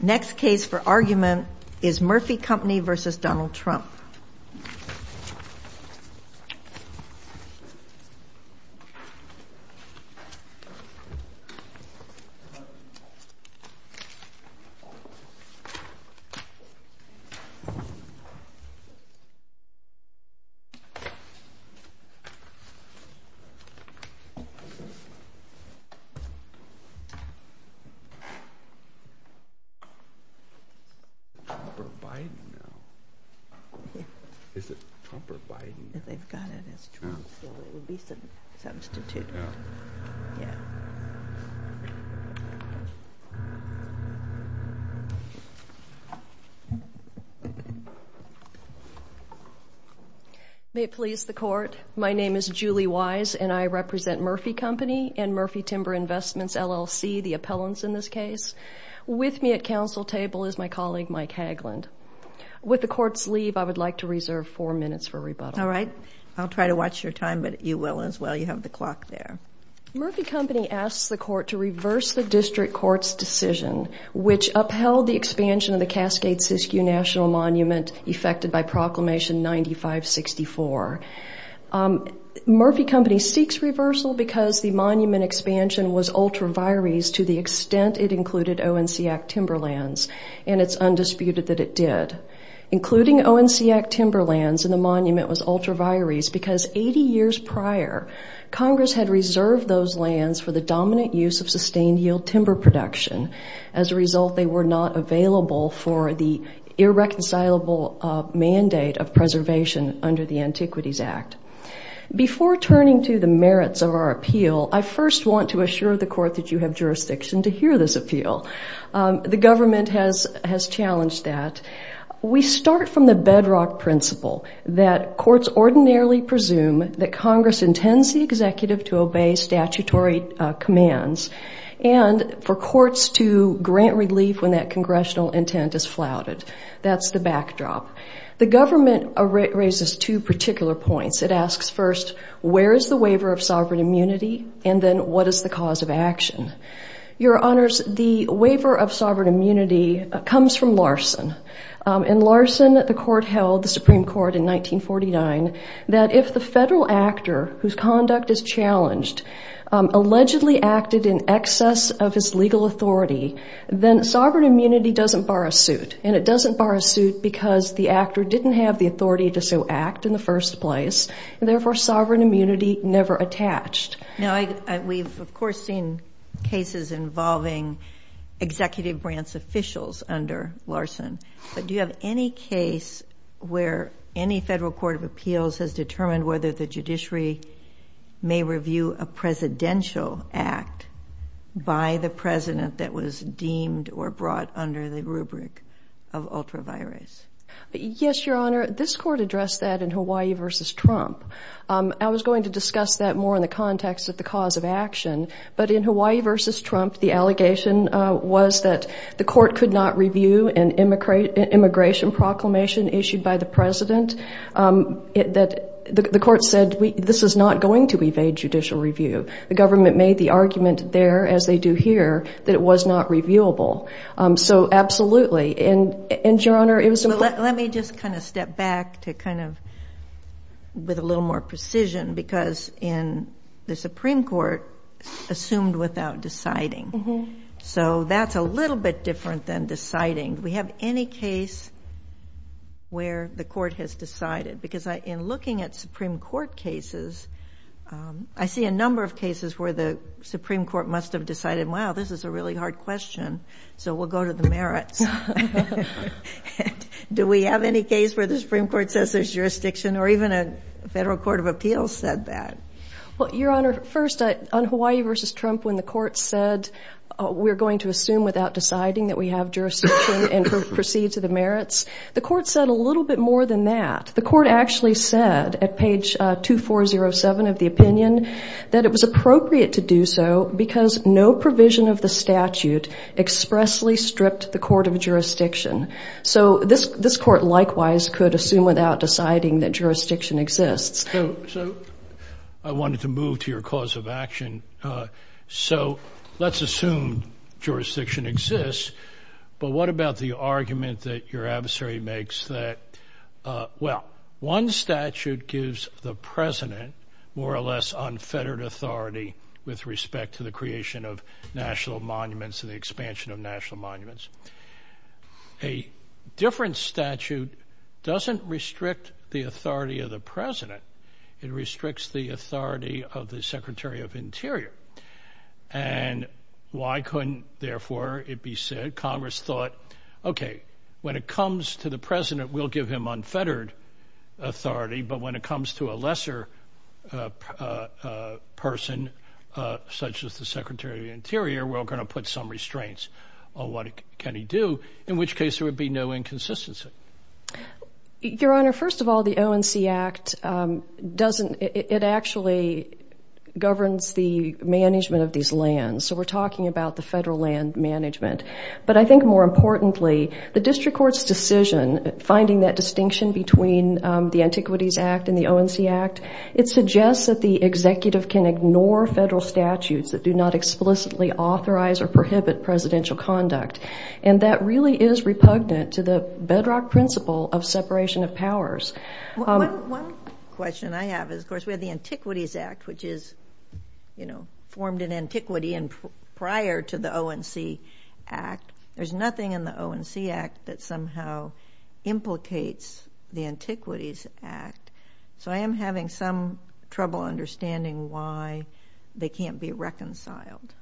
Next case for argument is Murphy Company v. Donald Trump. Julie Wise v. Murphy Timber Investments, LLC Murphy Company asks the Court to reverse the District Court's decision which upheld the expansion of the Cascade-Siskiyou National Monument effected by Proclamation 9564. Murphy Company seeks reversal because the monument expansion was ultraviaries to the extent it included ONC Act timberlands, and it's undisputed that it did. Including ONC Act timberlands in the monument was ultraviaries because 80 years prior, Congress had reserved those lands for the dominant use of sustained yield timber production. As a result, they were not available for the irreconcilable mandate of preservation under the Antiquities Act. Before turning to the merits of our appeal, I first want to assure the Court that you have jurisdiction to hear this appeal. The government has challenged that. We start from the bedrock principle that courts ordinarily presume that Congress intends the executive to obey statutory commands and for courts to grant relief when that congressional intent is a backdrop. The government raises two particular points. It asks first, where is the waiver of sovereign immunity? And then, what is the cause of action? Your Honors, the waiver of sovereign immunity comes from Larson. In Larson, the Court held, the Supreme Court in 1949, that if the federal actor whose conduct is challenged allegedly acted in excess of his legal authority, then sovereign immunity was never a suit because the actor didn't have the authority to so act in the first place, and therefore, sovereign immunity never attached. Now, we've, of course, seen cases involving executive branch officials under Larson, but do you have any case where any federal court of appeals has determined whether the judiciary may review a presidential act by the president that was deemed or brought under the rubric of ultra-virus? Yes, Your Honor. This court addressed that in Hawaii versus Trump. I was going to discuss that more in the context of the cause of action, but in Hawaii versus Trump, the allegation was that the court could not review an immigration proclamation issued by the president. The court said, this is not going to evade judicial review. The absolutely. And, Your Honor, it was... Let me just kind of step back to kind of, with a little more precision, because in the Supreme Court, assumed without deciding. So that's a little bit different than deciding. Do we have any case where the court has decided? Because in looking at Supreme Court cases, I see a number of cases where the Supreme Court must have decided, wow, this is a really hard question, so we'll go to the merits. Do we have any case where the Supreme Court says there's jurisdiction or even a federal court of appeals said that? Well, Your Honor, first, on Hawaii versus Trump, when the court said, we're going to assume without deciding that we have jurisdiction and proceed to the merits, the court said a little bit more than that. The court actually said at page 2407 of the opinion that it was appropriate to do so because no provision of the statute expressly stripped the court of jurisdiction. So this court likewise could assume without deciding that jurisdiction exists. So I wanted to move to your cause of action. So let's assume jurisdiction exists, but what about the argument that your adversary makes that, well, one statute gives the president more or less unfettered authority with respect to the creation of national monuments and the expansion of national monuments. A different statute doesn't restrict the authority of the president. It restricts the authority of the Secretary of Interior. And why couldn't, therefore, it be said Congress thought, okay, when it comes to the president, we'll give him unfettered authority, but when it comes to a lesser person such as the Secretary of Interior, we're going to put some restraints on what can he do, in which case there would be no inconsistency. Your Honor, first of all, the ONC Act doesn't, it actually governs the management of these lands. So we're talking about the federal land management. But I think more importantly, the district court's decision, finding that distinction between the Antiquities Act and the ONC Act, it suggests that the executive can ignore federal statutes that do not explicitly authorize or prohibit presidential conduct. And that really is repugnant to the bedrock principle of separation of powers. One question I have is, of course, we have the Antiquities Act, which is, you know, formed in antiquity and prior to the ONC Act. There's nothing in the ONC Act that somehow implicates the Antiquities Act. So I am having some trouble understanding why they can't be reconciled.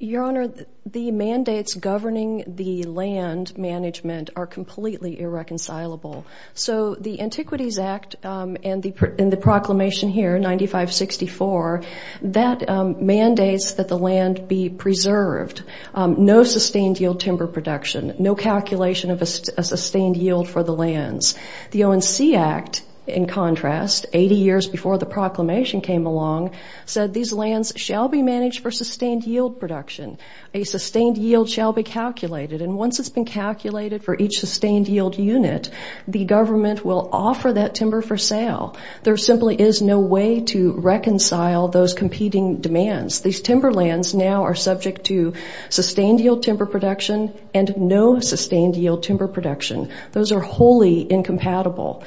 Your Honor, the mandates governing the land management are completely irreconcilable. So the Antiquities Act and the proclamation here, 9564, that mandates that the land be preserved. No sustained yield timber production. No calculation of a sustained yield for the lands. The ONC Act, in contrast, 80 years before the proclamation came along, said these lands shall be managed for sustained yield production. A sustained yield shall be calculated. And once it's been calculated for each sustained yield unit, the government will offer that timber for sale. There simply is no way to reconcile those competing demands. These timber lands now are subject to sustained yield timber production and no sustained yield timber production. Those are wholly incompatible.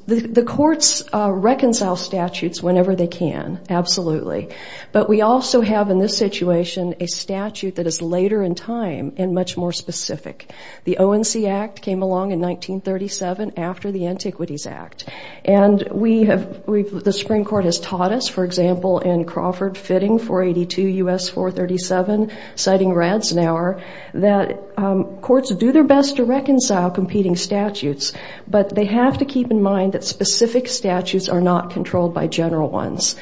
The courts reconcile statutes whenever they can, absolutely. But we also have in this situation a statute that is later in time and much more specific. The ONC Act came along in 1937 after the Antiquities Act. And we have, the Supreme Court has taught us, for example, in Crawford Fitting 482 U.S. 437, citing Radsnauer, that courts do their best to reconcile competing statutes. But they have to keep in mind that specific statutes are not controlled by general ones.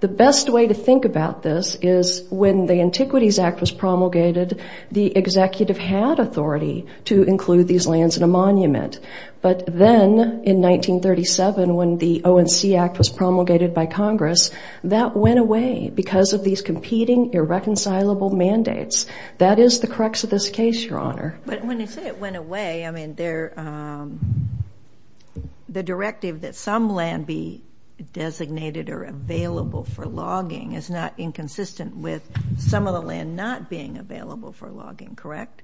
The best way to think about this is when the Antiquities Act was promulgated, the executive had authority to include these lands in a monument. But then in 1937 when the ONC Act was promulgated by Congress, that went away because of these competing irreconcilable mandates. That is the crux of this case, Your Honor. But when you say it went away, I mean, the directive that some land be designated or available for logging is not inconsistent with some of the land not being available for logging, correct?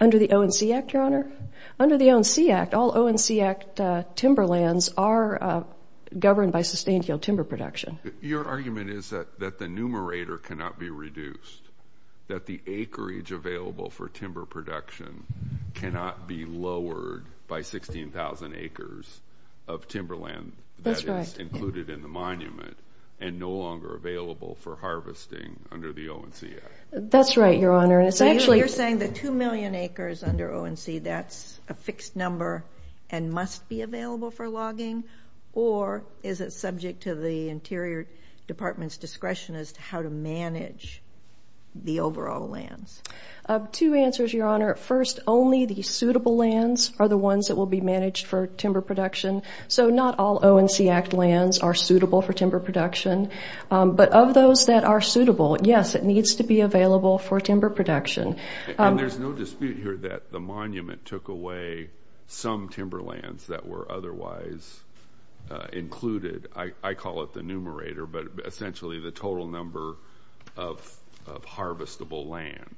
Under the ONC Act, Your Honor? Under the ONC Act, all ONC Act timberlands are governed by sustained yield timber production. Your argument is that the numerator cannot be reduced, that the acreage available for timber production cannot be lowered by 16,000 acres of timberland that is included in the monument and no longer available for harvesting under the ONC Act. That's right, Your Honor. You're saying that two million acres under ONC, that's a fixed number and must be available for logging? Or is it subject to the Interior Department's discretion as to how to manage the overall lands? Two answers, Your Honor. First, only the suitable lands are the ones that will be managed for timber production. So not all ONC Act lands are suitable for timber production. But of those that are suitable, yes, it needs to be available for timber production. And there's no dispute here that the monument took away some timberlands that were otherwise included. I call it the numerator, but essentially the total number of harvestable land.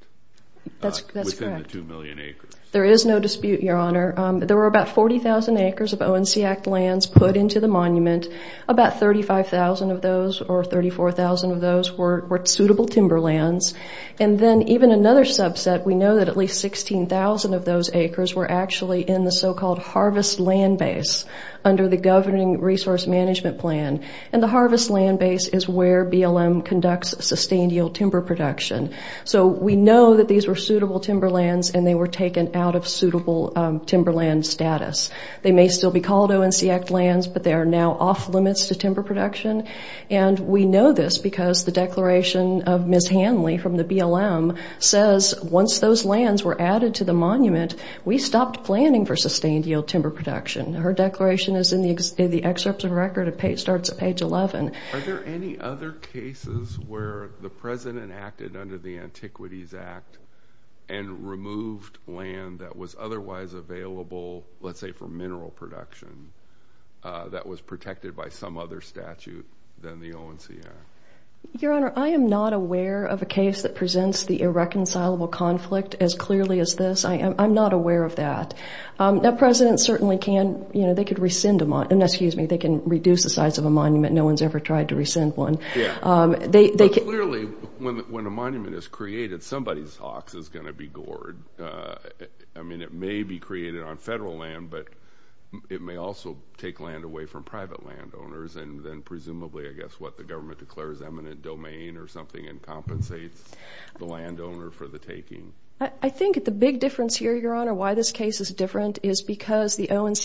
That's correct. Within the two million acres. There is no dispute, Your Honor. There were about 40,000 acres of ONC Act lands put into the monument. About 35,000 of those, or 34,000 of those, were suitable timberlands. And then even another subset, we know that at least 16,000 of those acres were actually in the so-called harvest land base under the Governing Resource Management Plan. And the harvest land base is where BLM conducts sustained yield timber production. So we know that these were suitable timberlands and they were taken out of suitable timberland status. They may still be called ONC Act lands, but they are now off limits to timber production. And we know this because the declaration of Ms. Hanley from the BLM says once those lands were added to the monument, we stopped planning for sustained yield timber production. Her declaration is in the excerpts of the record. It starts at page 11. Are there any other cases where the President acted under the Antiquities Act and removed land that was otherwise available, let's say for mineral production, that was protected by some other statute than the ONC Act? Your Honor, I am not aware of a case that presents the irreconcilable conflict as clearly as this. I'm not aware of that. The President certainly can, you know, they could rescind a monument, excuse me, they can reduce the size of a monument. No one's ever tried to rescind one. Clearly, when a monument is created, somebody's ox is going to be gored. I mean, it may be created on federal land, but it may also take land away from private landowners and then presumably I guess what the government declares eminent domain or something and compensates the landowner for the taking. I think the big difference here, Your Honor, why this case is different is because the land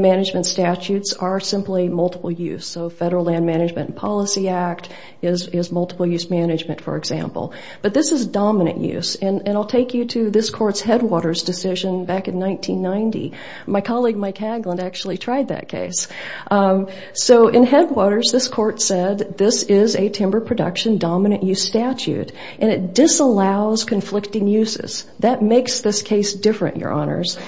management statutes are simply multiple use. So Federal Land Management and Policy Act is multiple use management, for example. But this is dominant use. And I'll take you to this court's Headwaters decision back in 1990. My colleague Mike Haglund actually tried that case. So in Headwaters, this court said this is a timber production dominant use statute and it disallows conflicting uses. That makes this case different, Your Honors.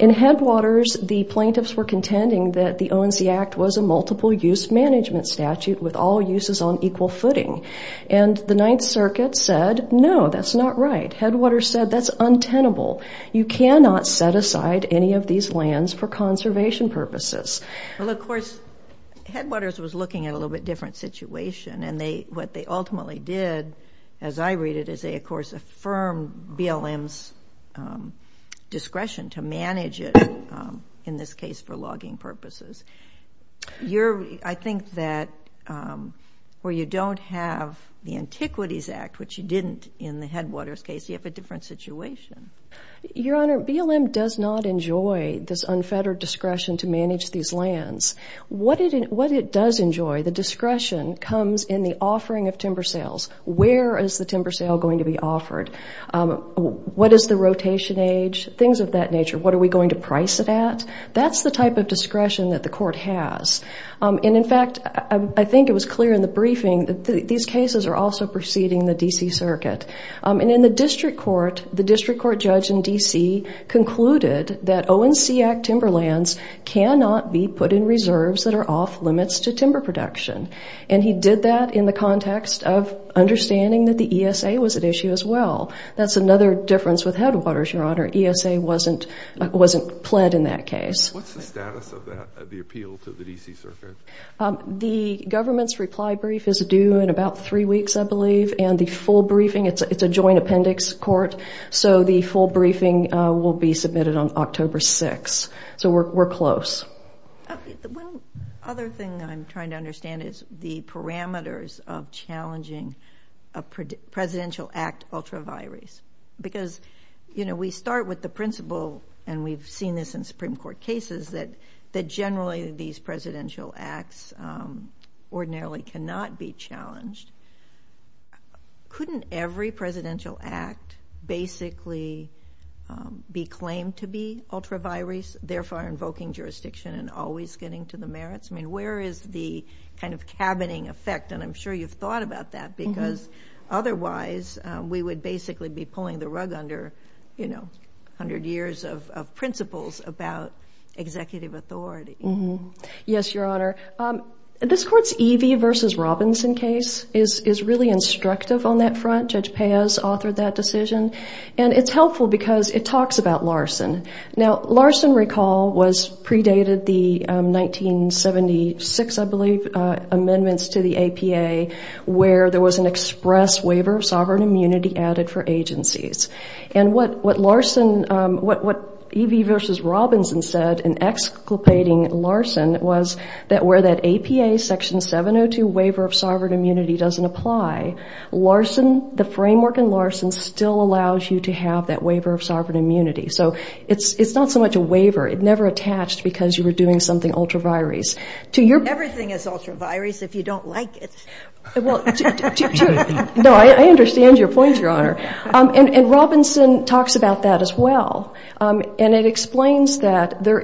In Headwaters, the plaintiffs were contending that the ONC Act was a multiple use management statute with all uses on equal footing. And the Ninth Circuit said, no, that's not right. Headwaters said, that's untenable. You cannot set aside any of these lands for conservation purposes. Well, of course, Headwaters was looking at a little bit different situation. And what they ultimately did, as I read it, is they, of course, affirmed BLM's discretion to manage it in this case for logging purposes. I think that where you don't have the Antiquities Act, which you didn't in the Headwaters case, you have a different situation. Your Honor, BLM does not enjoy this unfettered discretion to manage these lands. What it does enjoy, the discretion, comes in the offering of timber sales. Where is the timber sale going to be offered? What is the rotation age? Things of that nature. What are we going to price it at? That's the type of discretion that the court has. And, in fact, I think it was clear in the briefing that these cases are also preceding the D.C. Circuit. And in the District Court, the District Court judge in D.C. concluded that ONC Act timber lands cannot be put in reserves that are off limits to timber production. And he did that in the context of understanding that the ESA was at issue as well. That's another difference with Headwaters, Your Honor. ESA wasn't pled in that case. What's the status of the appeal to the D.C. Circuit? The government's reply brief is due in about three weeks, I believe. And the full briefing, it's a joint appendix court. So the full briefing will be submitted on October 6. So we're close. One other thing I'm trying to understand is the parameters of challenging a Presidential Act ultra-virus. Because, you know, we start with the principle, and we've seen this in Supreme Court cases, that generally these Presidential Acts ordinarily cannot be challenged. Couldn't every Presidential Act basically be claimed to be ultra-virus, therefore invoking jurisdiction and always getting to the merits? I mean, where is the kind of cabining effect? And I'm sure you've thought about that, because otherwise we would basically be pulling the rug under, you know, 100 years of principles about executive authority. Yes, Your Honor. This Court's E.V. v. Robinson case is really instructive on that front. Judge Pez authored that decision. And it's helpful because it talks about Larson. Now, Larson, recall, was predated the 1976, I believe, amendments to the APA where there was an express waiver of sovereign immunity added for agencies. And what Larson, what E.V. v. Robinson said in exculpating Larson was that where that APA section 702 waiver of sovereign immunity doesn't apply, Larson, the framework in Larson still allows you to have that waiver of sovereign immunity. So it's not so much a waiver. It never attached because you were doing something ultra-virus. To your point, everything is ultra-virus if you don't like it. No, I understand your point, Your Honor. And Robinson talks about that as well. And it says there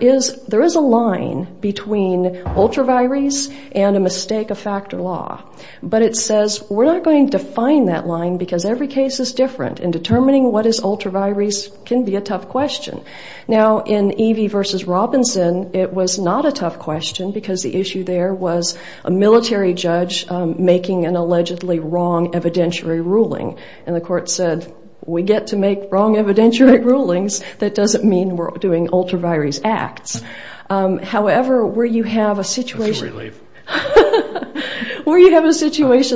is a line between ultra-virus and a mistake of factor law. But it says we're not going to define that line because every case is different. And determining what is ultra-virus can be a tough question. Now, in E.V. v. Robinson, it was not a tough question because the issue there was a military judge making an allegedly wrong evidentiary ruling. And the Court said, we get to make wrong evidentiary rulings. That doesn't mean we're doing ultra-virus acts. However, where you have a situation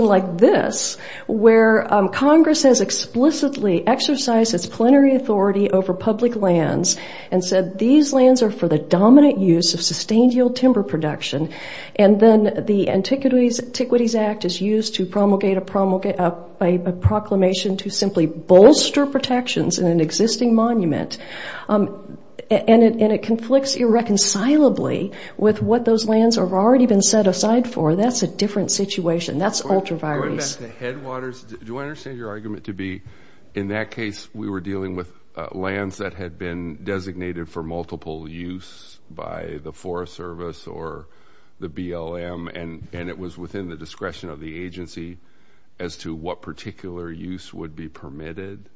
like this, where Congress has explicitly exercised its plenary authority over public lands and said these lands are for the dominant use of sustained yield timber production. And then the Antiquities Act is used to promulgate a proclamation to simply bolster protections in an existing monument. And it conflicts irreconcilably with what those lands have already been set aside for. That's a different situation. That's ultra-virus. Going back to Headwaters, do I understand your argument to be, in that case, we were dealing with lands that had been designated for multiple use by the Forest Service or the BLM and it was within the discretion of the agency as to what particular use would be permitted?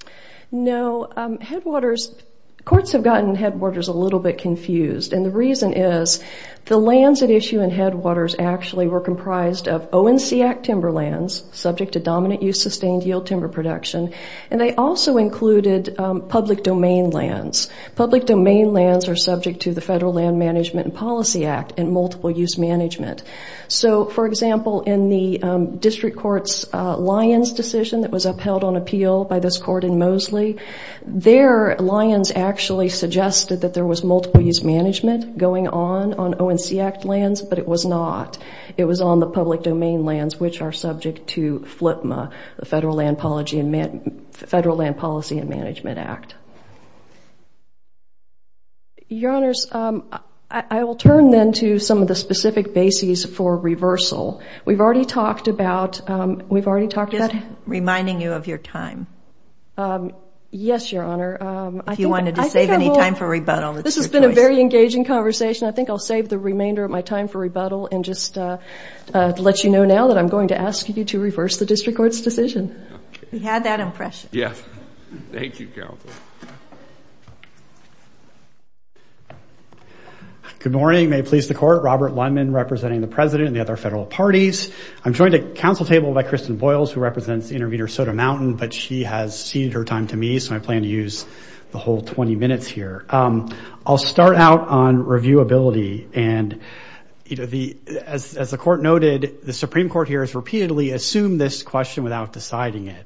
No. Headwaters, courts have gotten Headwaters a little bit confused. And the reason is, the lands at issue in Headwaters actually were comprised of ONC Act timber lands, subject to dominant use sustained yield timber production. And they also included public domain lands. Public domain lands are subject to the Federal Land Management and Policy Act and multiple use management. So, for example, in the district court's Lyons decision that was upheld on appeal by this court in Mosley, there, Lyons actually suggested that there was multiple use management going on on ONC Act lands, but it was not. It was on the public domain lands which are subject to FLPMA, the Federal Land Policy and Management Act. Your Honors, I will turn then to some of the specific bases for reversal. We've already talked about, we've already talked about... Just reminding you of your time. Yes, Your Honor. I think I will... If you wanted to save any time for rebuttal, that's your choice. This has been a very engaging conversation. I think I'll save the remainder of my time for rebuttal and just let you know now that I'm going to ask you to reverse the district court's decision. We had that impression. Yes. Thank you, Counsel. Good morning. May it please the Court. Robert Lundman representing the President and the other federal parties. I'm joined at the Council table by Kristen Boyles, who represents the intervener Soda Mountain, but she has ceded her time to me, so I plan to use the whole 20 minutes here. I'll start out on reviewability. And, you know, as the Court noted, the Supreme Court can ask a question without deciding it.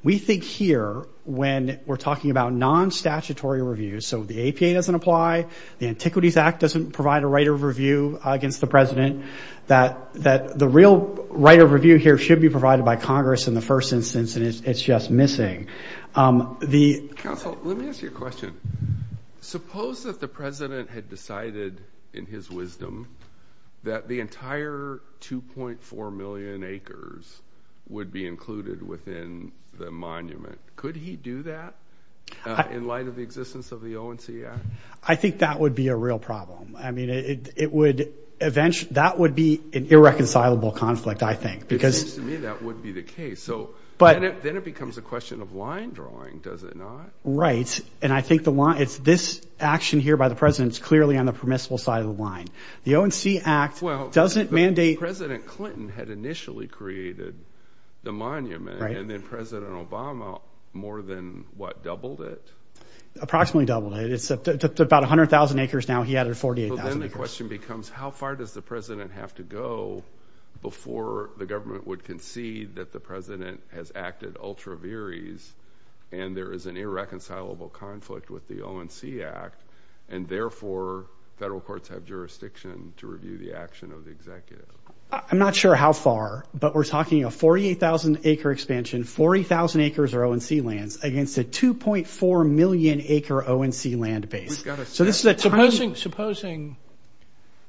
We think here, when we're talking about non-statutory reviews, so the APA doesn't apply, the Antiquities Act doesn't provide a right of review against the President, that the real right of review here should be provided by Congress in the first instance, and it's just missing. Counsel, let me ask you a question. Suppose that the President had decided, in his wisdom, that the entire 2.4 million acres would be included within the monument. Could he do that in light of the existence of the ONC Act? I think that would be a real problem. I mean, it would eventually, that would be an irreconcilable conflict, I think. It seems to me that would be the case. Then it becomes a question of line drawing, does it not? Right. And I think the line, it's this action here by the President is clearly on the permissible side of the line. The ONC Act doesn't mandate- Well, President Clinton had initially created the monument, and then President Obama, more than what, doubled it? Approximately doubled it. It's about 100,000 acres now, he added 48,000 acres. So then the question becomes, how far does the President have to go before the government would concede that the President has acted ultra viris, and there is an irreconcilable conflict with the ONC Act, and therefore, federal courts have jurisdiction to review the action of the executive? I'm not sure how far, but we're talking a 48,000 acre expansion, 40,000 acres are ONC lands, against a 2.4 million acre ONC land base. So this is a- Supposing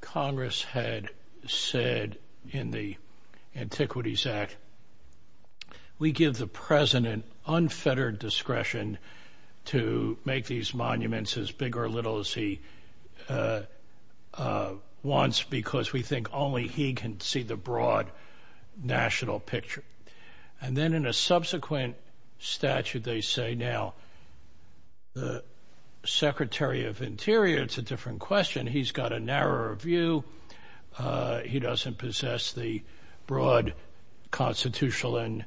Congress had said in the Antiquities Act, we give the President unfettered discretion to make these monuments as big or little as he wants, because we think only he can see the broad national picture. And then in a subsequent statute, they say now, the Secretary of Interior, it's a different question, he's got a narrower view, he doesn't possess the of the President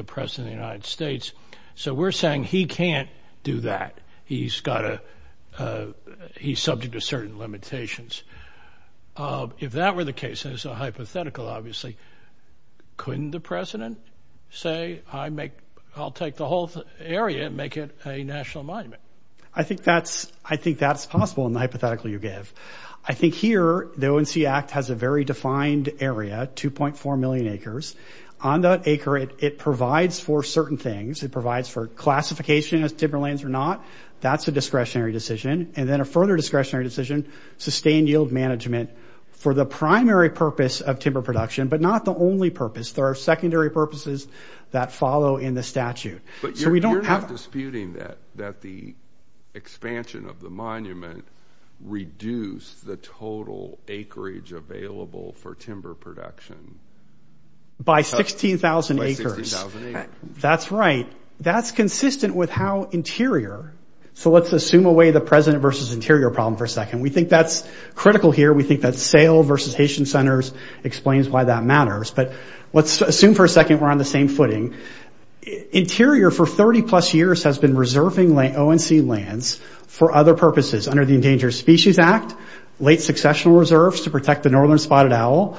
of the United States. So we're saying he can't do that. He's got a, he's subject to certain limitations. If that were the case, there's a hypothetical, obviously, couldn't the President say, I'll take the whole area and make it a national monument? I think that's possible in the hypothetical you gave. I think here, the ONC Act has a very defined area, 2.4 million acres. On that acre, it provides for certain things. It provides for classification as timber lands or not. That's a discretionary decision. And then a further discretionary decision, sustained yield management for the primary purpose of timber production, but not the only purpose. There are secondary purposes that follow in the statute. But you're not disputing that the expansion of the monument reduced the total acreage available for timber production. By 16,000 acres. By 16,000 acres. That's right. That's consistent with how Interior, so let's assume away the President versus Interior problem for a second. We think that's critical here. We think that sale versus Haitian centers explains why that matters. But let's assume for a second we're on the same footing. Interior for 30 plus years has been reserving ONC lands for other purposes under the Endangered Species Act, late successional reserves to protect the Northern Spotted Owl,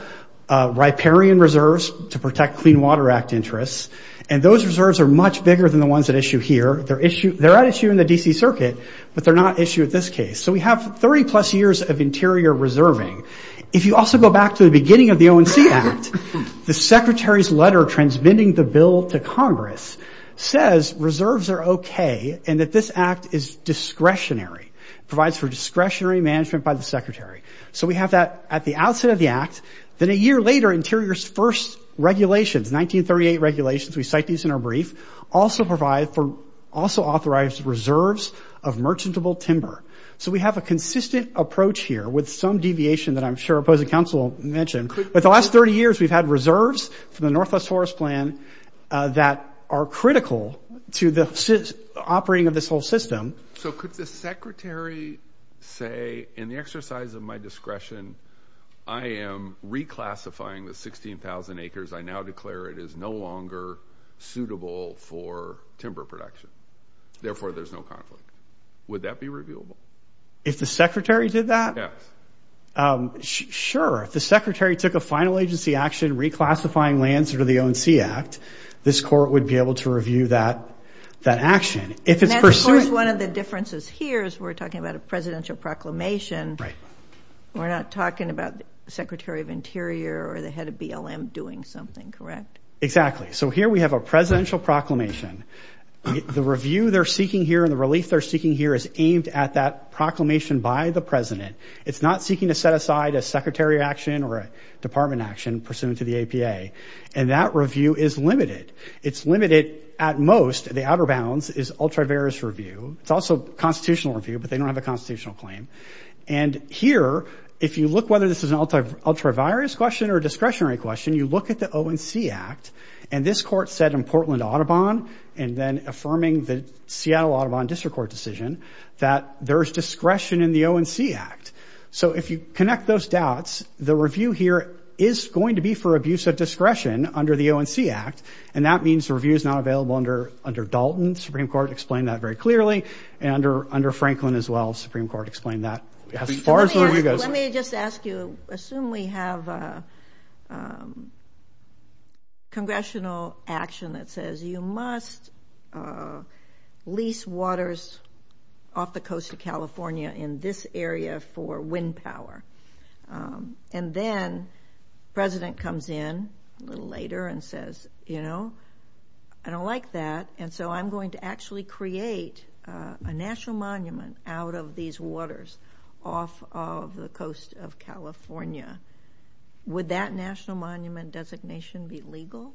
riparian reserves to protect Clean Water Act interests. And those reserves are much bigger than the ones at issue here. They're at issue in the D.C. Circuit, but they're not issue at this case. So we have 30 plus years of Interior reserving. If you also go back to the beginning of the ONC Act, the Secretary's letter transmitting the bill to Congress says reserves are okay and that this Act is discretionary. It provides for discretionary management by the Secretary. So we have that at the outset of the Act. Then a year later, Interior's first regulations, 1938 regulations, we cite these in our brief, also authorize reserves of merchantable timber. So we have a consistent approach here with some deviation that I'm sure opposing counsel mentioned. But the last 30 years we've had reserves from the Northwest Forest Plan that are critical to the operating of this whole system. So could the Secretary say, in the exercise of my discretion, I am reclassifying the 16,000 acres. I now declare it is no longer suitable for timber production. Therefore, there's no conflict. Would that be reviewable? If the Secretary did that? Yes. Sure. If the Secretary took a final agency action reclassifying lands under the ONC Act, this court would be able to review that action. And that's of course one of the differences here is we're talking about a presidential proclamation. Right. We're not talking about the Secretary of Interior or the head of BLM doing something, correct? Exactly. So here we have a presidential proclamation. The review they're seeking here and the relief they're seeking here is aimed at that proclamation by the President. It's not seeking to set aside a secretary action or a department action pursuant to the APA. And that review is limited. It's limited at most. The outer bounds is ultraviarious review. It's also constitutional review, but they don't have a constitutional claim. And here, if you look whether this is an ultraviarious question or discretionary question, you look at the ONC Act and this court said in Portland Audubon and then affirming the Seattle Audubon District Court decision that there's discretion in the ONC Act. So if you connect those doubts, the review here is going to be for abuse of discretion under the ONC Act. And that means the review is not available under Dalton. The Supreme Court explained that very clearly. And under Franklin as well, the Supreme Court explained that. Let me just ask you, assume we have a congressional action that says you must lease waters off the coast of California in this area for wind power. And then, the President comes in a little later and says, you know, I don't like that. And so I'm going to actually create a national monument out of these waters off of the coast of California. Would that national monument designation be legal?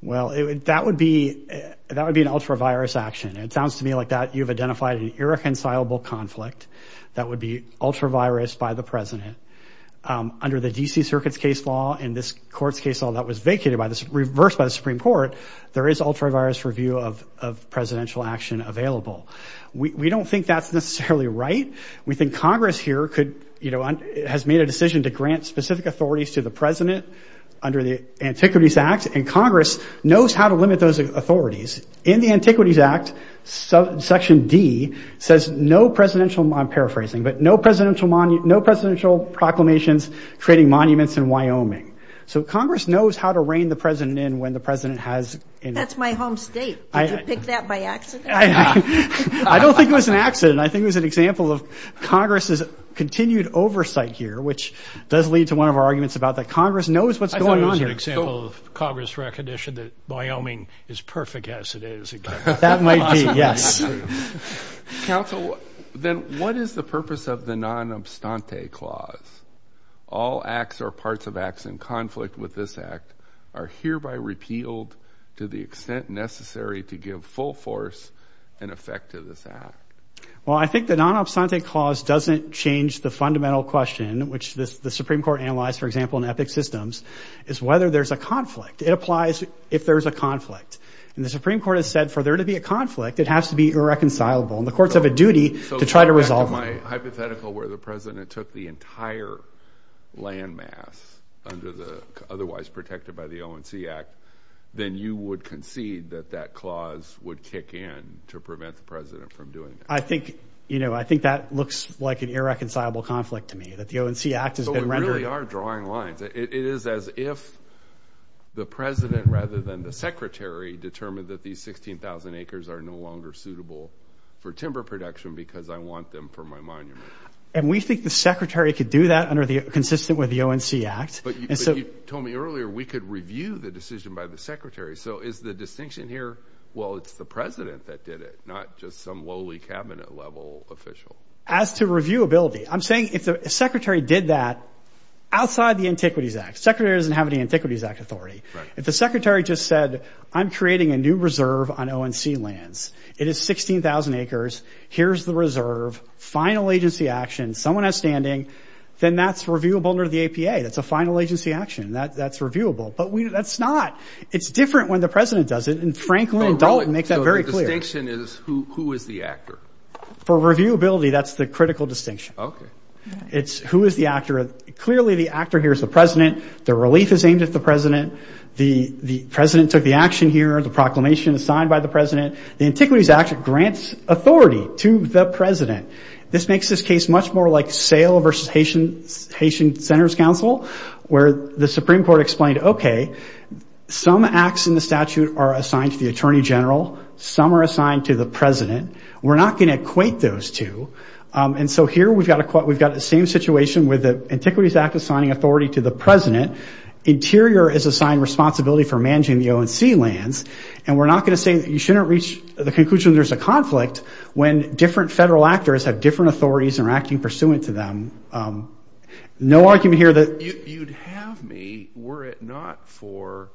Well, that would be an ultraviarious action. It sounds to me like that you've identified an irreconcilable conflict that would be ultraviarious by the President. Under the D.C. Circuit's case law and this court's case law that was vacated by this, reversed by the Supreme Court, there is ultraviarious review of presidential action available. We don't think that's necessarily right. We think Congress here could, you know, has made a decision to grant specific authorities to the President under the Antiquities Act. And Congress knows how to limit those authorities. In the Antiquities Act, Section D says no presidential, I'm paraphrasing, but no presidential proclamations creating monuments in Wyoming. So Congress knows how to rein the President in when the President has... That's my home state. Did you pick that by accident? I don't think it was an accident. I think it was an example of Congress's continued oversight here, which does lead to one of our arguments about that Congress knows what's going on here. It's an example of Congress's recognition that Wyoming is perfect as it is. That might be, yes. Counsel, then what is the purpose of the non-abstante clause? All acts or parts of acts in conflict with this act are hereby repealed to the extent necessary to give full force and effect to this act. Well, I think the non-abstante clause doesn't change the fundamental question, which the there's a conflict. It applies if there's a conflict. And the Supreme Court has said for there to be a conflict, it has to be irreconcilable. And the courts have a duty to try to resolve So if we go back to my hypothetical where the President took the entire landmass under the otherwise protected by the ONC Act, then you would concede that that clause would kick in to prevent the President from doing that? I think, you know, I think that looks like an irreconcilable conflict to me, that the ONC Act has been rendered... It is as if the President rather than the Secretary determined that these 16,000 acres are no longer suitable for timber production because I want them for my monument. And we think the Secretary could do that under the consistent with the ONC Act. But you told me earlier, we could review the decision by the Secretary. So is the distinction here? Well, it's the President that did it, not just some lowly cabinet level official. As to reviewability, I'm saying if the Secretary did that outside the Antiquities Act, the Secretary doesn't have any Antiquities Act authority. If the Secretary just said, I'm creating a new reserve on ONC lands, it is 16,000 acres, here's the reserve, final agency action, someone has standing, then that's reviewable under the APA. That's a final agency action that's reviewable. But that's not. It's different when the President does it. And Franklin and Dalton make that very clear. So the distinction is who is the actor? For reviewability, that's the critical distinction. It's who is the actor? Clearly, the actor here is the President. The relief is aimed at the President. The President took the action here. The proclamation is signed by the President. The Antiquities Act grants authority to the President. This makes this case much more like sale versus Haitian Senator's Council, where the Supreme Court explained, okay, some acts in the statute are assigned to the Attorney General. Some are assigned to the President. We're not going to equate those two. And so here we've got the same situation with the Antiquities Act assigning authority to the President. Interior is assigned responsibility for managing the ONC lands. And we're not going to say that you shouldn't reach the conclusion there's a conflict when different federal actors have different authorities and are acting pursuant to them. No argument here that... You'd have me were it not for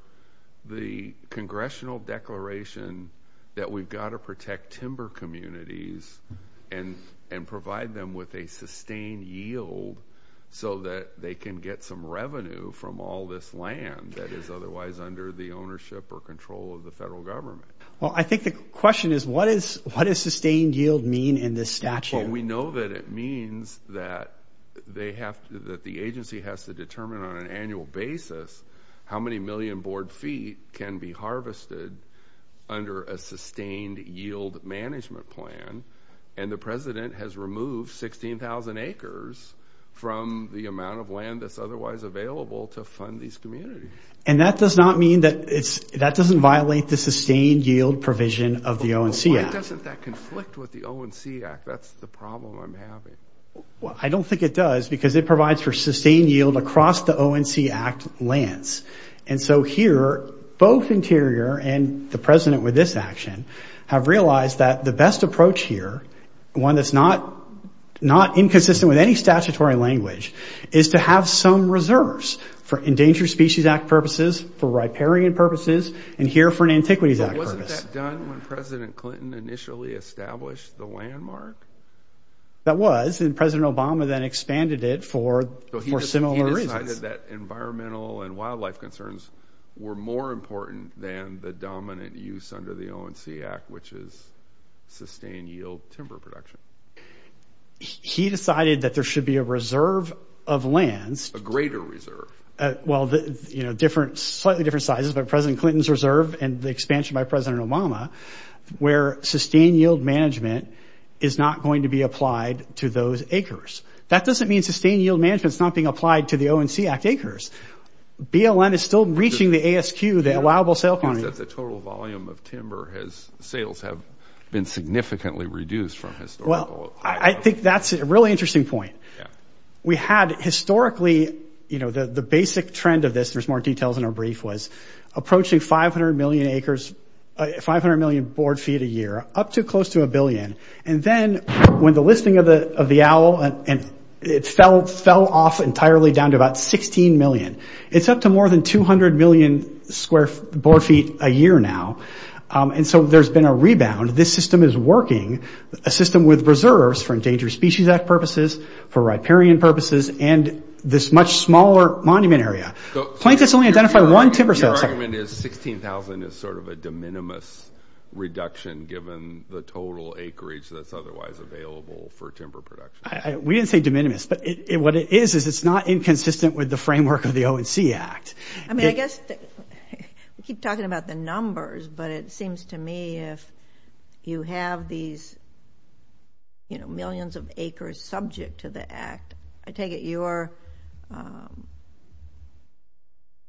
the Congressional Declaration that we've got to protect timber communities and provide them with a sustained yield so that they can get some revenue from all this land that is otherwise under the ownership or control of the federal government. Well, I think the question is, what does sustained yield mean in this statute? We know that it means that the agency has to determine on an annual basis how many million board feet can be harvested under a sustained yield management plan. And the President has removed 16,000 acres from the amount of land that's otherwise available to fund these communities. And that doesn't violate the sustained yield provision of the ONC Act. But doesn't that conflict with the ONC Act? That's the problem I'm having. I don't think it does because it provides for sustained yield across the ONC Act lands. And so here, both Interior and the President with this action have realized that the best approach here, one that's not inconsistent with any statutory language, is to have some reserves for Endangered Species Act purposes, for riparian purposes, and here for an Antiquities Act purpose. But wasn't that done when President Clinton initially established the landmark? That was, and President Obama then expanded it for similar reasons. So he decided that environmental and wildlife concerns were more important than the dominant use under the ONC Act, which is sustained yield timber production. He decided that there should be a reserve of lands. A greater reserve. Well, you know, slightly different sizes, but President Clinton's reserve and the expansion by President Obama, where sustained yield management is not going to be applied to those acres. That doesn't mean sustained yield management's not being applied to the ONC Act acres. BLM is still reaching the ASQ, the allowable sale quantity. It appears that the total volume of timber has, sales have been significantly reduced from historical. Well, I think that's a really interesting point. We had historically, you know, the basic trend of this, there's more details in our brief, was approaching 500 million acres, 500 million board feet a year, up to close to a billion. And then when the listing of the, of the owl, and it fell, fell off entirely down to about 16 million. It's up to more than 200 million square board feet a year now. And so there's been a rebound. This system is working, a system with reserves for Endangered Species Act purposes, for riparian purposes, and this much smaller monument area. Plaintiffs only identify one timber sale site. Your argument is 16,000 is sort of a de minimis reduction given the total acreage that's otherwise available for timber production. We didn't say de minimis, but what it is, is it's not inconsistent with the framework of the ONC Act. I mean, I guess, we keep talking about the numbers, but it seems to me if you have these, you know, millions of acres subject to the Act, I take it your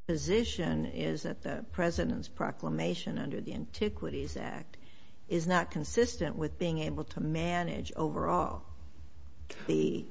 position is that the President's proclamation under the Antiquities Act is not consistent with being able to manage overall the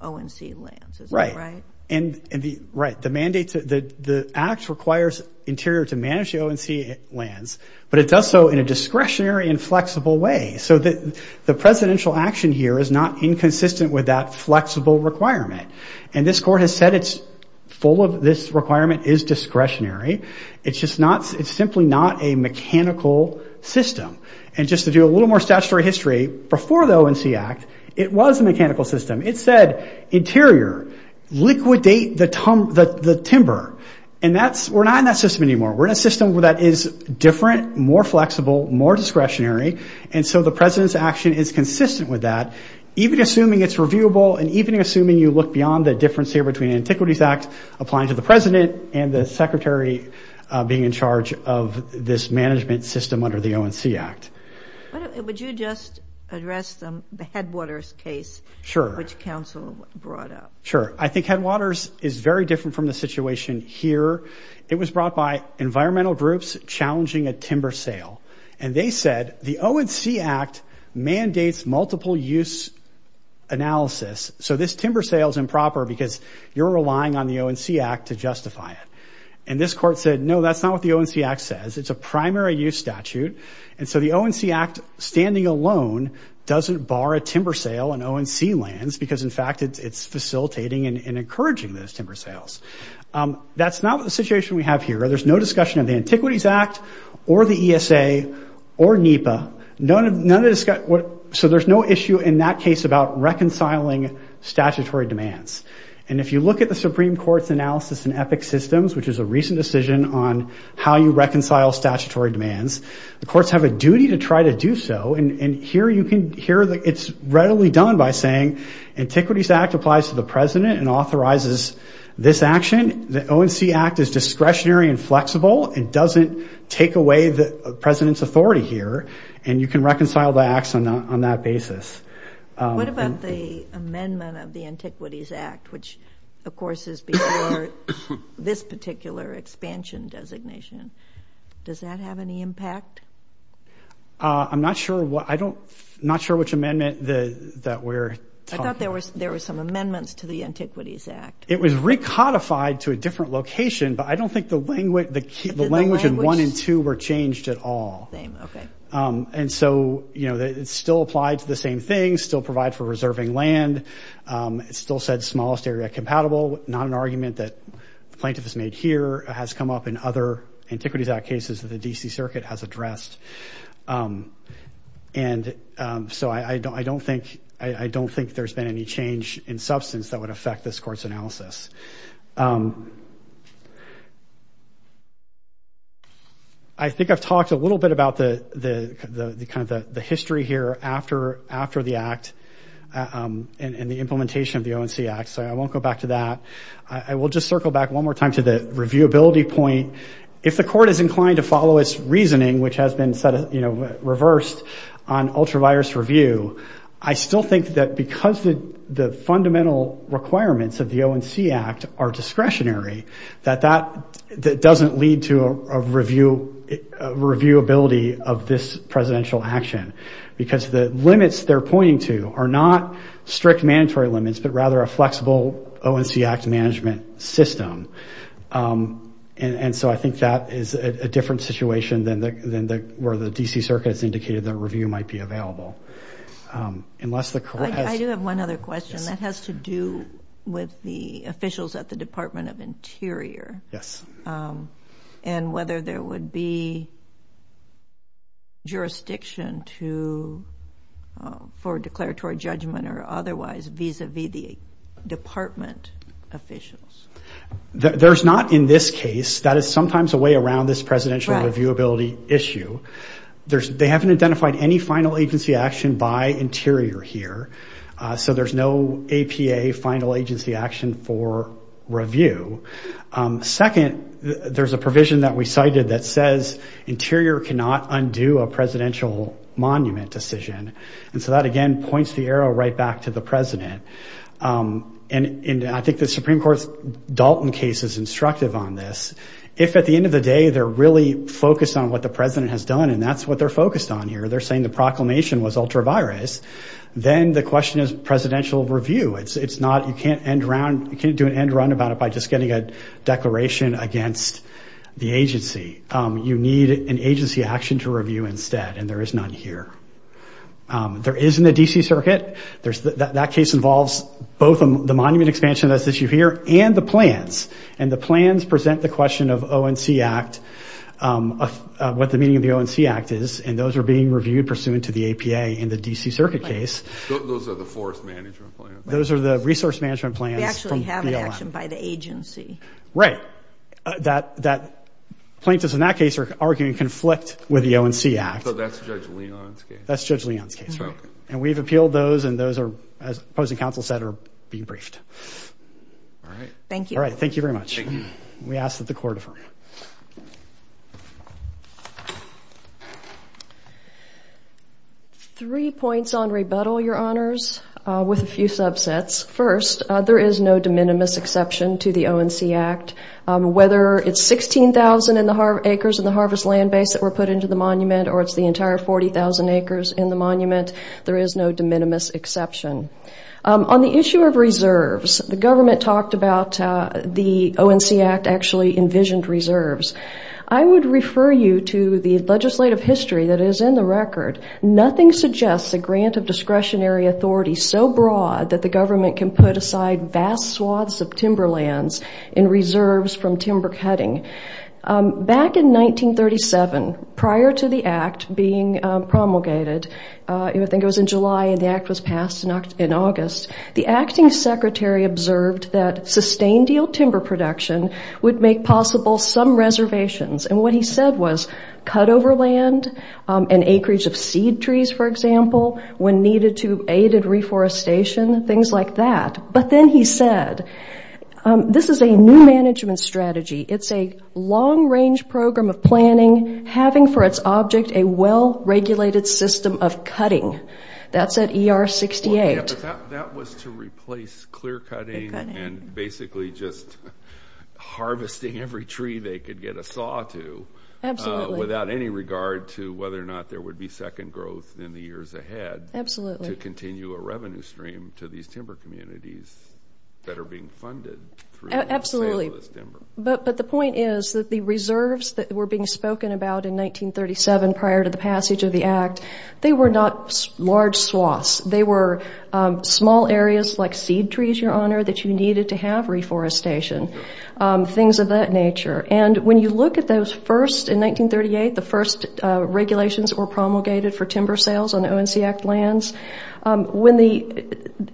ONC lands. Is that right? Right. And the, right. The mandates, the Act requires Interior to manage the ONC lands, but it does so in a discretionary and flexible way. So the Presidential action here is not inconsistent with that flexible requirement. And this Court has said it's full of, this requirement is discretionary. It's just not, it's simply not a mechanical system. And just to do a little more statutory history, before the ONC Act, it was a mechanical system. It said Interior, liquidate the timber. And that's, we're not in that system anymore. We're in a system that is different, more flexible, more discretionary. And so the President's action is consistent with that, even assuming it's reviewable and even assuming you look beyond the difference here between Antiquities Act, applying to the President and the Secretary being in charge of this management system under the ONC Act. Would you just address the Headwaters case? Sure. Which Council brought up. Sure. I think Headwaters is very different from the situation here. It was brought by environmental groups challenging a timber sale. And they said, the ONC Act mandates multiple use analysis. So this timber sale is improper because you're relying on the ONC Act to justify it. And this Court said, no, that's not what the ONC Act says. It's a primary use statute. And so the ONC Act, standing alone, doesn't bar a timber sale in ONC lands because in fact it's facilitating and encouraging those timber sales. That's not the situation we have here. There's no discussion of the Antiquities Act or the ESA or NEPA. So there's no issue in that case about reconciling statutory demands. And if you look at the Supreme Court's analysis in Epic Systems, which is a recent decision on how you reconcile statutory demands, the courts have a duty to try to do so. And here it's readily done by saying Antiquities Act applies to the President and authorizes this action. The ONC Act is discretionary and flexible. It doesn't take away the President's authority here. And you can reconcile the acts on that basis. What about the amendment of the Antiquities Act, which of course is before this particular expansion designation? Does that have any impact? I'm not sure which amendment that we're talking about. I thought there were some amendments to the Antiquities Act. It was recodified to a different location, but I don't think the language in one and two were changed at all. And so, you know, it's still applied to the same thing, still provide for reserving land. It still said smallest area compatible, not an argument that the plaintiff has made here, has come up in other Antiquities Act cases that the D.C. Circuit has addressed. And so I don't think there's been any change in substance that would affect this court's analysis. I think I've talked a little bit about the kind of the history here after the Act and the implementation of the ONC Act, so I won't go back to that. I will just circle back one more time to the reviewability point. If the court is inclined to follow its reasoning, which has been set, you know, reversed on ultravirus review, I still think that because the fundamental requirements of the ONC Act are discretionary, that that doesn't lead to a reviewability of this presidential action, because the limits they're pointing to are not strict mandatory limits, but rather a flexible ONC Act management system. And so I think that is a different situation than where the D.C. Circuit has indicated that a review might be available. Unless the court has... I do have one other question. That has to do with the officials at the Department of Interior and whether there would be jurisdiction for declaratory judgment or otherwise vis-a-vis the department officials. There's not in this case. That is sometimes a way around this presidential reviewability issue. They haven't identified any final agency action by Interior here, so there's no APA final agency action for review. Second, there's a provision that we cited that says Interior cannot undo a presidential monument decision, and so that again points the arrow right back to the president. And I think the Supreme Court's Dalton case is instructive on this. If at the end of the day they're really focused on what the president has done, and that's what they're focused on here, they're saying the proclamation was ultra-virus, then the question is presidential review. It's not... You can't do an end-run about it by just getting a declaration against the agency. You need an agency action to review instead, and there is none here. There is in the D.C. Circuit. That case involves both the monument expansion that's at issue here and the plans. And the plans present the question of ONC Act, what the meaning of the ONC Act is, and those are being reviewed pursuant to the APA in the D.C. Circuit case. Those are the forest management plans. Those are the resource management plans. We actually have an action by the agency. Right. That plaintiffs in that case are arguing conflict with the ONC Act. So that's Judge Leon's case. That's Judge Leon's case. Okay. And we've appealed those, and those are, as opposing counsel said, are being briefed. All right. Thank you. All right. Thank you very much. Thank you. We ask that the Court affirm. Three points on rebuttal, Your Honors, with a few subsets. First, there is no de minimis exception to the ONC Act. Whether it's 16,000 acres in the Harvest Land Base that were put into the monument or it's the entire 40,000 acres in the monument, there is no de minimis exception. On the issue of reserves, the government talked about the ONC Act actually envisioned reserves. I would refer you to the legislative history that is in the record. Nothing suggests a grant of discretionary authority so broad that the government can put aside vast swaths of timber lands in reserves from timber cutting. Back in 1937, prior to the Act being promulgated, I think it was in July and the Act was passed in August, the Acting Secretary observed that sustained yield timber production would make possible some reservations. What he said was cut over land, an acreage of seed trees, for example, when needed to aid in reforestation, things like that. But then he said, this is a new management strategy. It's a long-range program of planning, having for its object a well-regulated system of cutting. That's at ER 68. That was to replace clear-cutting and basically just harvesting every tree they could get a saw to without any regard to whether or not there would be second growth in the years ahead to continue a revenue stream to these timber communities that are being funded through the sale of this timber. But the point is that the reserves that were being spoken about in 1937 prior to the passage of the Act, they were not large swaths. They were small areas like seed trees, Your Honor, that you needed to have reforestation, things of that nature. And when you look at those first, in 1938, the first regulations that were promulgated for timber sales on the ONC Act lands, when the,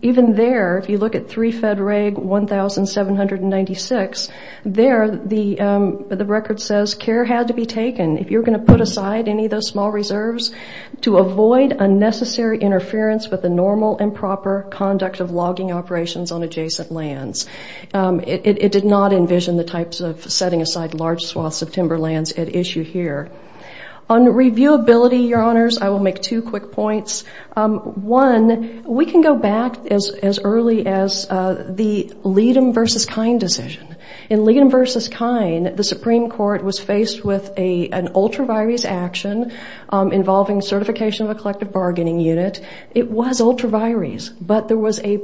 even there, if you look at three-fed reg 1796, there the record says care had to be taken. If you're going to put aside any of those small reserves, to avoid unnecessary interference with the normal and proper conduct of logging operations on adjacent lands. It did not envision the types of setting aside large swaths of timber lands at issue here. On reviewability, Your Honors, I will make two quick points. One, we can go back as early as the Leadom versus Kine decision. In Leadom versus Kine, the Supreme Court was faced with an ultra-virus action involving certification of a collective bargaining unit. It was ultra-virus, but there was a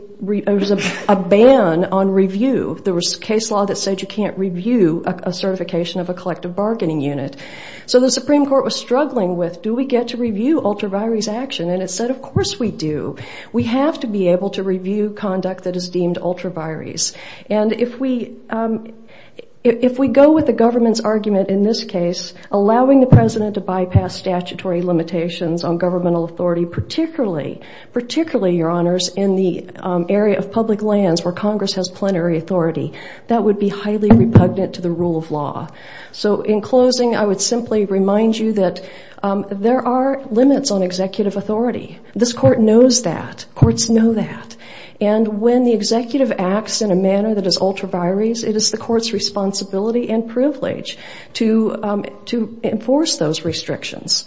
ban on review. There was case law that said you can't review a certification of a collective bargaining unit. So the Supreme Court was struggling with, do we get to review ultra-virus action? And it said, of course we do. We have to be able to review conduct that is deemed ultra-virus. And if we go with the government's argument in this case, allowing the President to bypass statutory limitations on governmental authority, particularly, Your Honors, in the area of public lands where Congress has plenary authority, that would be highly repugnant to the rule of law. So in closing, I would simply remind you that there are limits on executive authority. This Court knows that. Courts know that. And when the executive acts in a manner that is ultra-virus, it is the Court's responsibility and privilege to enforce those restrictions.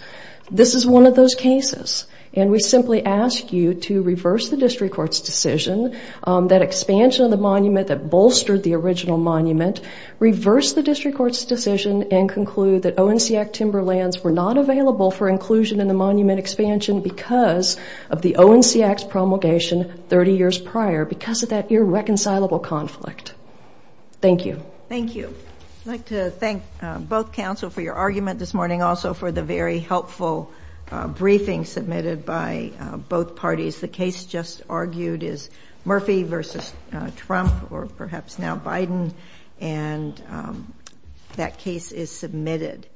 This is one of those cases. And we simply ask you to reverse the District Court's decision, that expansion of the monument that bolstered the original monument, reverse the District Court's decision and conclude that ONC Act timber lands were not available for inclusion in the monument expansion because of the ONC Act's promulgation 30 years prior because of that irreconcilable conflict. Thank you. Thank you. I'd like to thank both counsel for your argument this morning, also for the very helpful briefing submitted by both parties. The case just argued is Murphy v. Trump, or perhaps now Biden, and that case is submitted.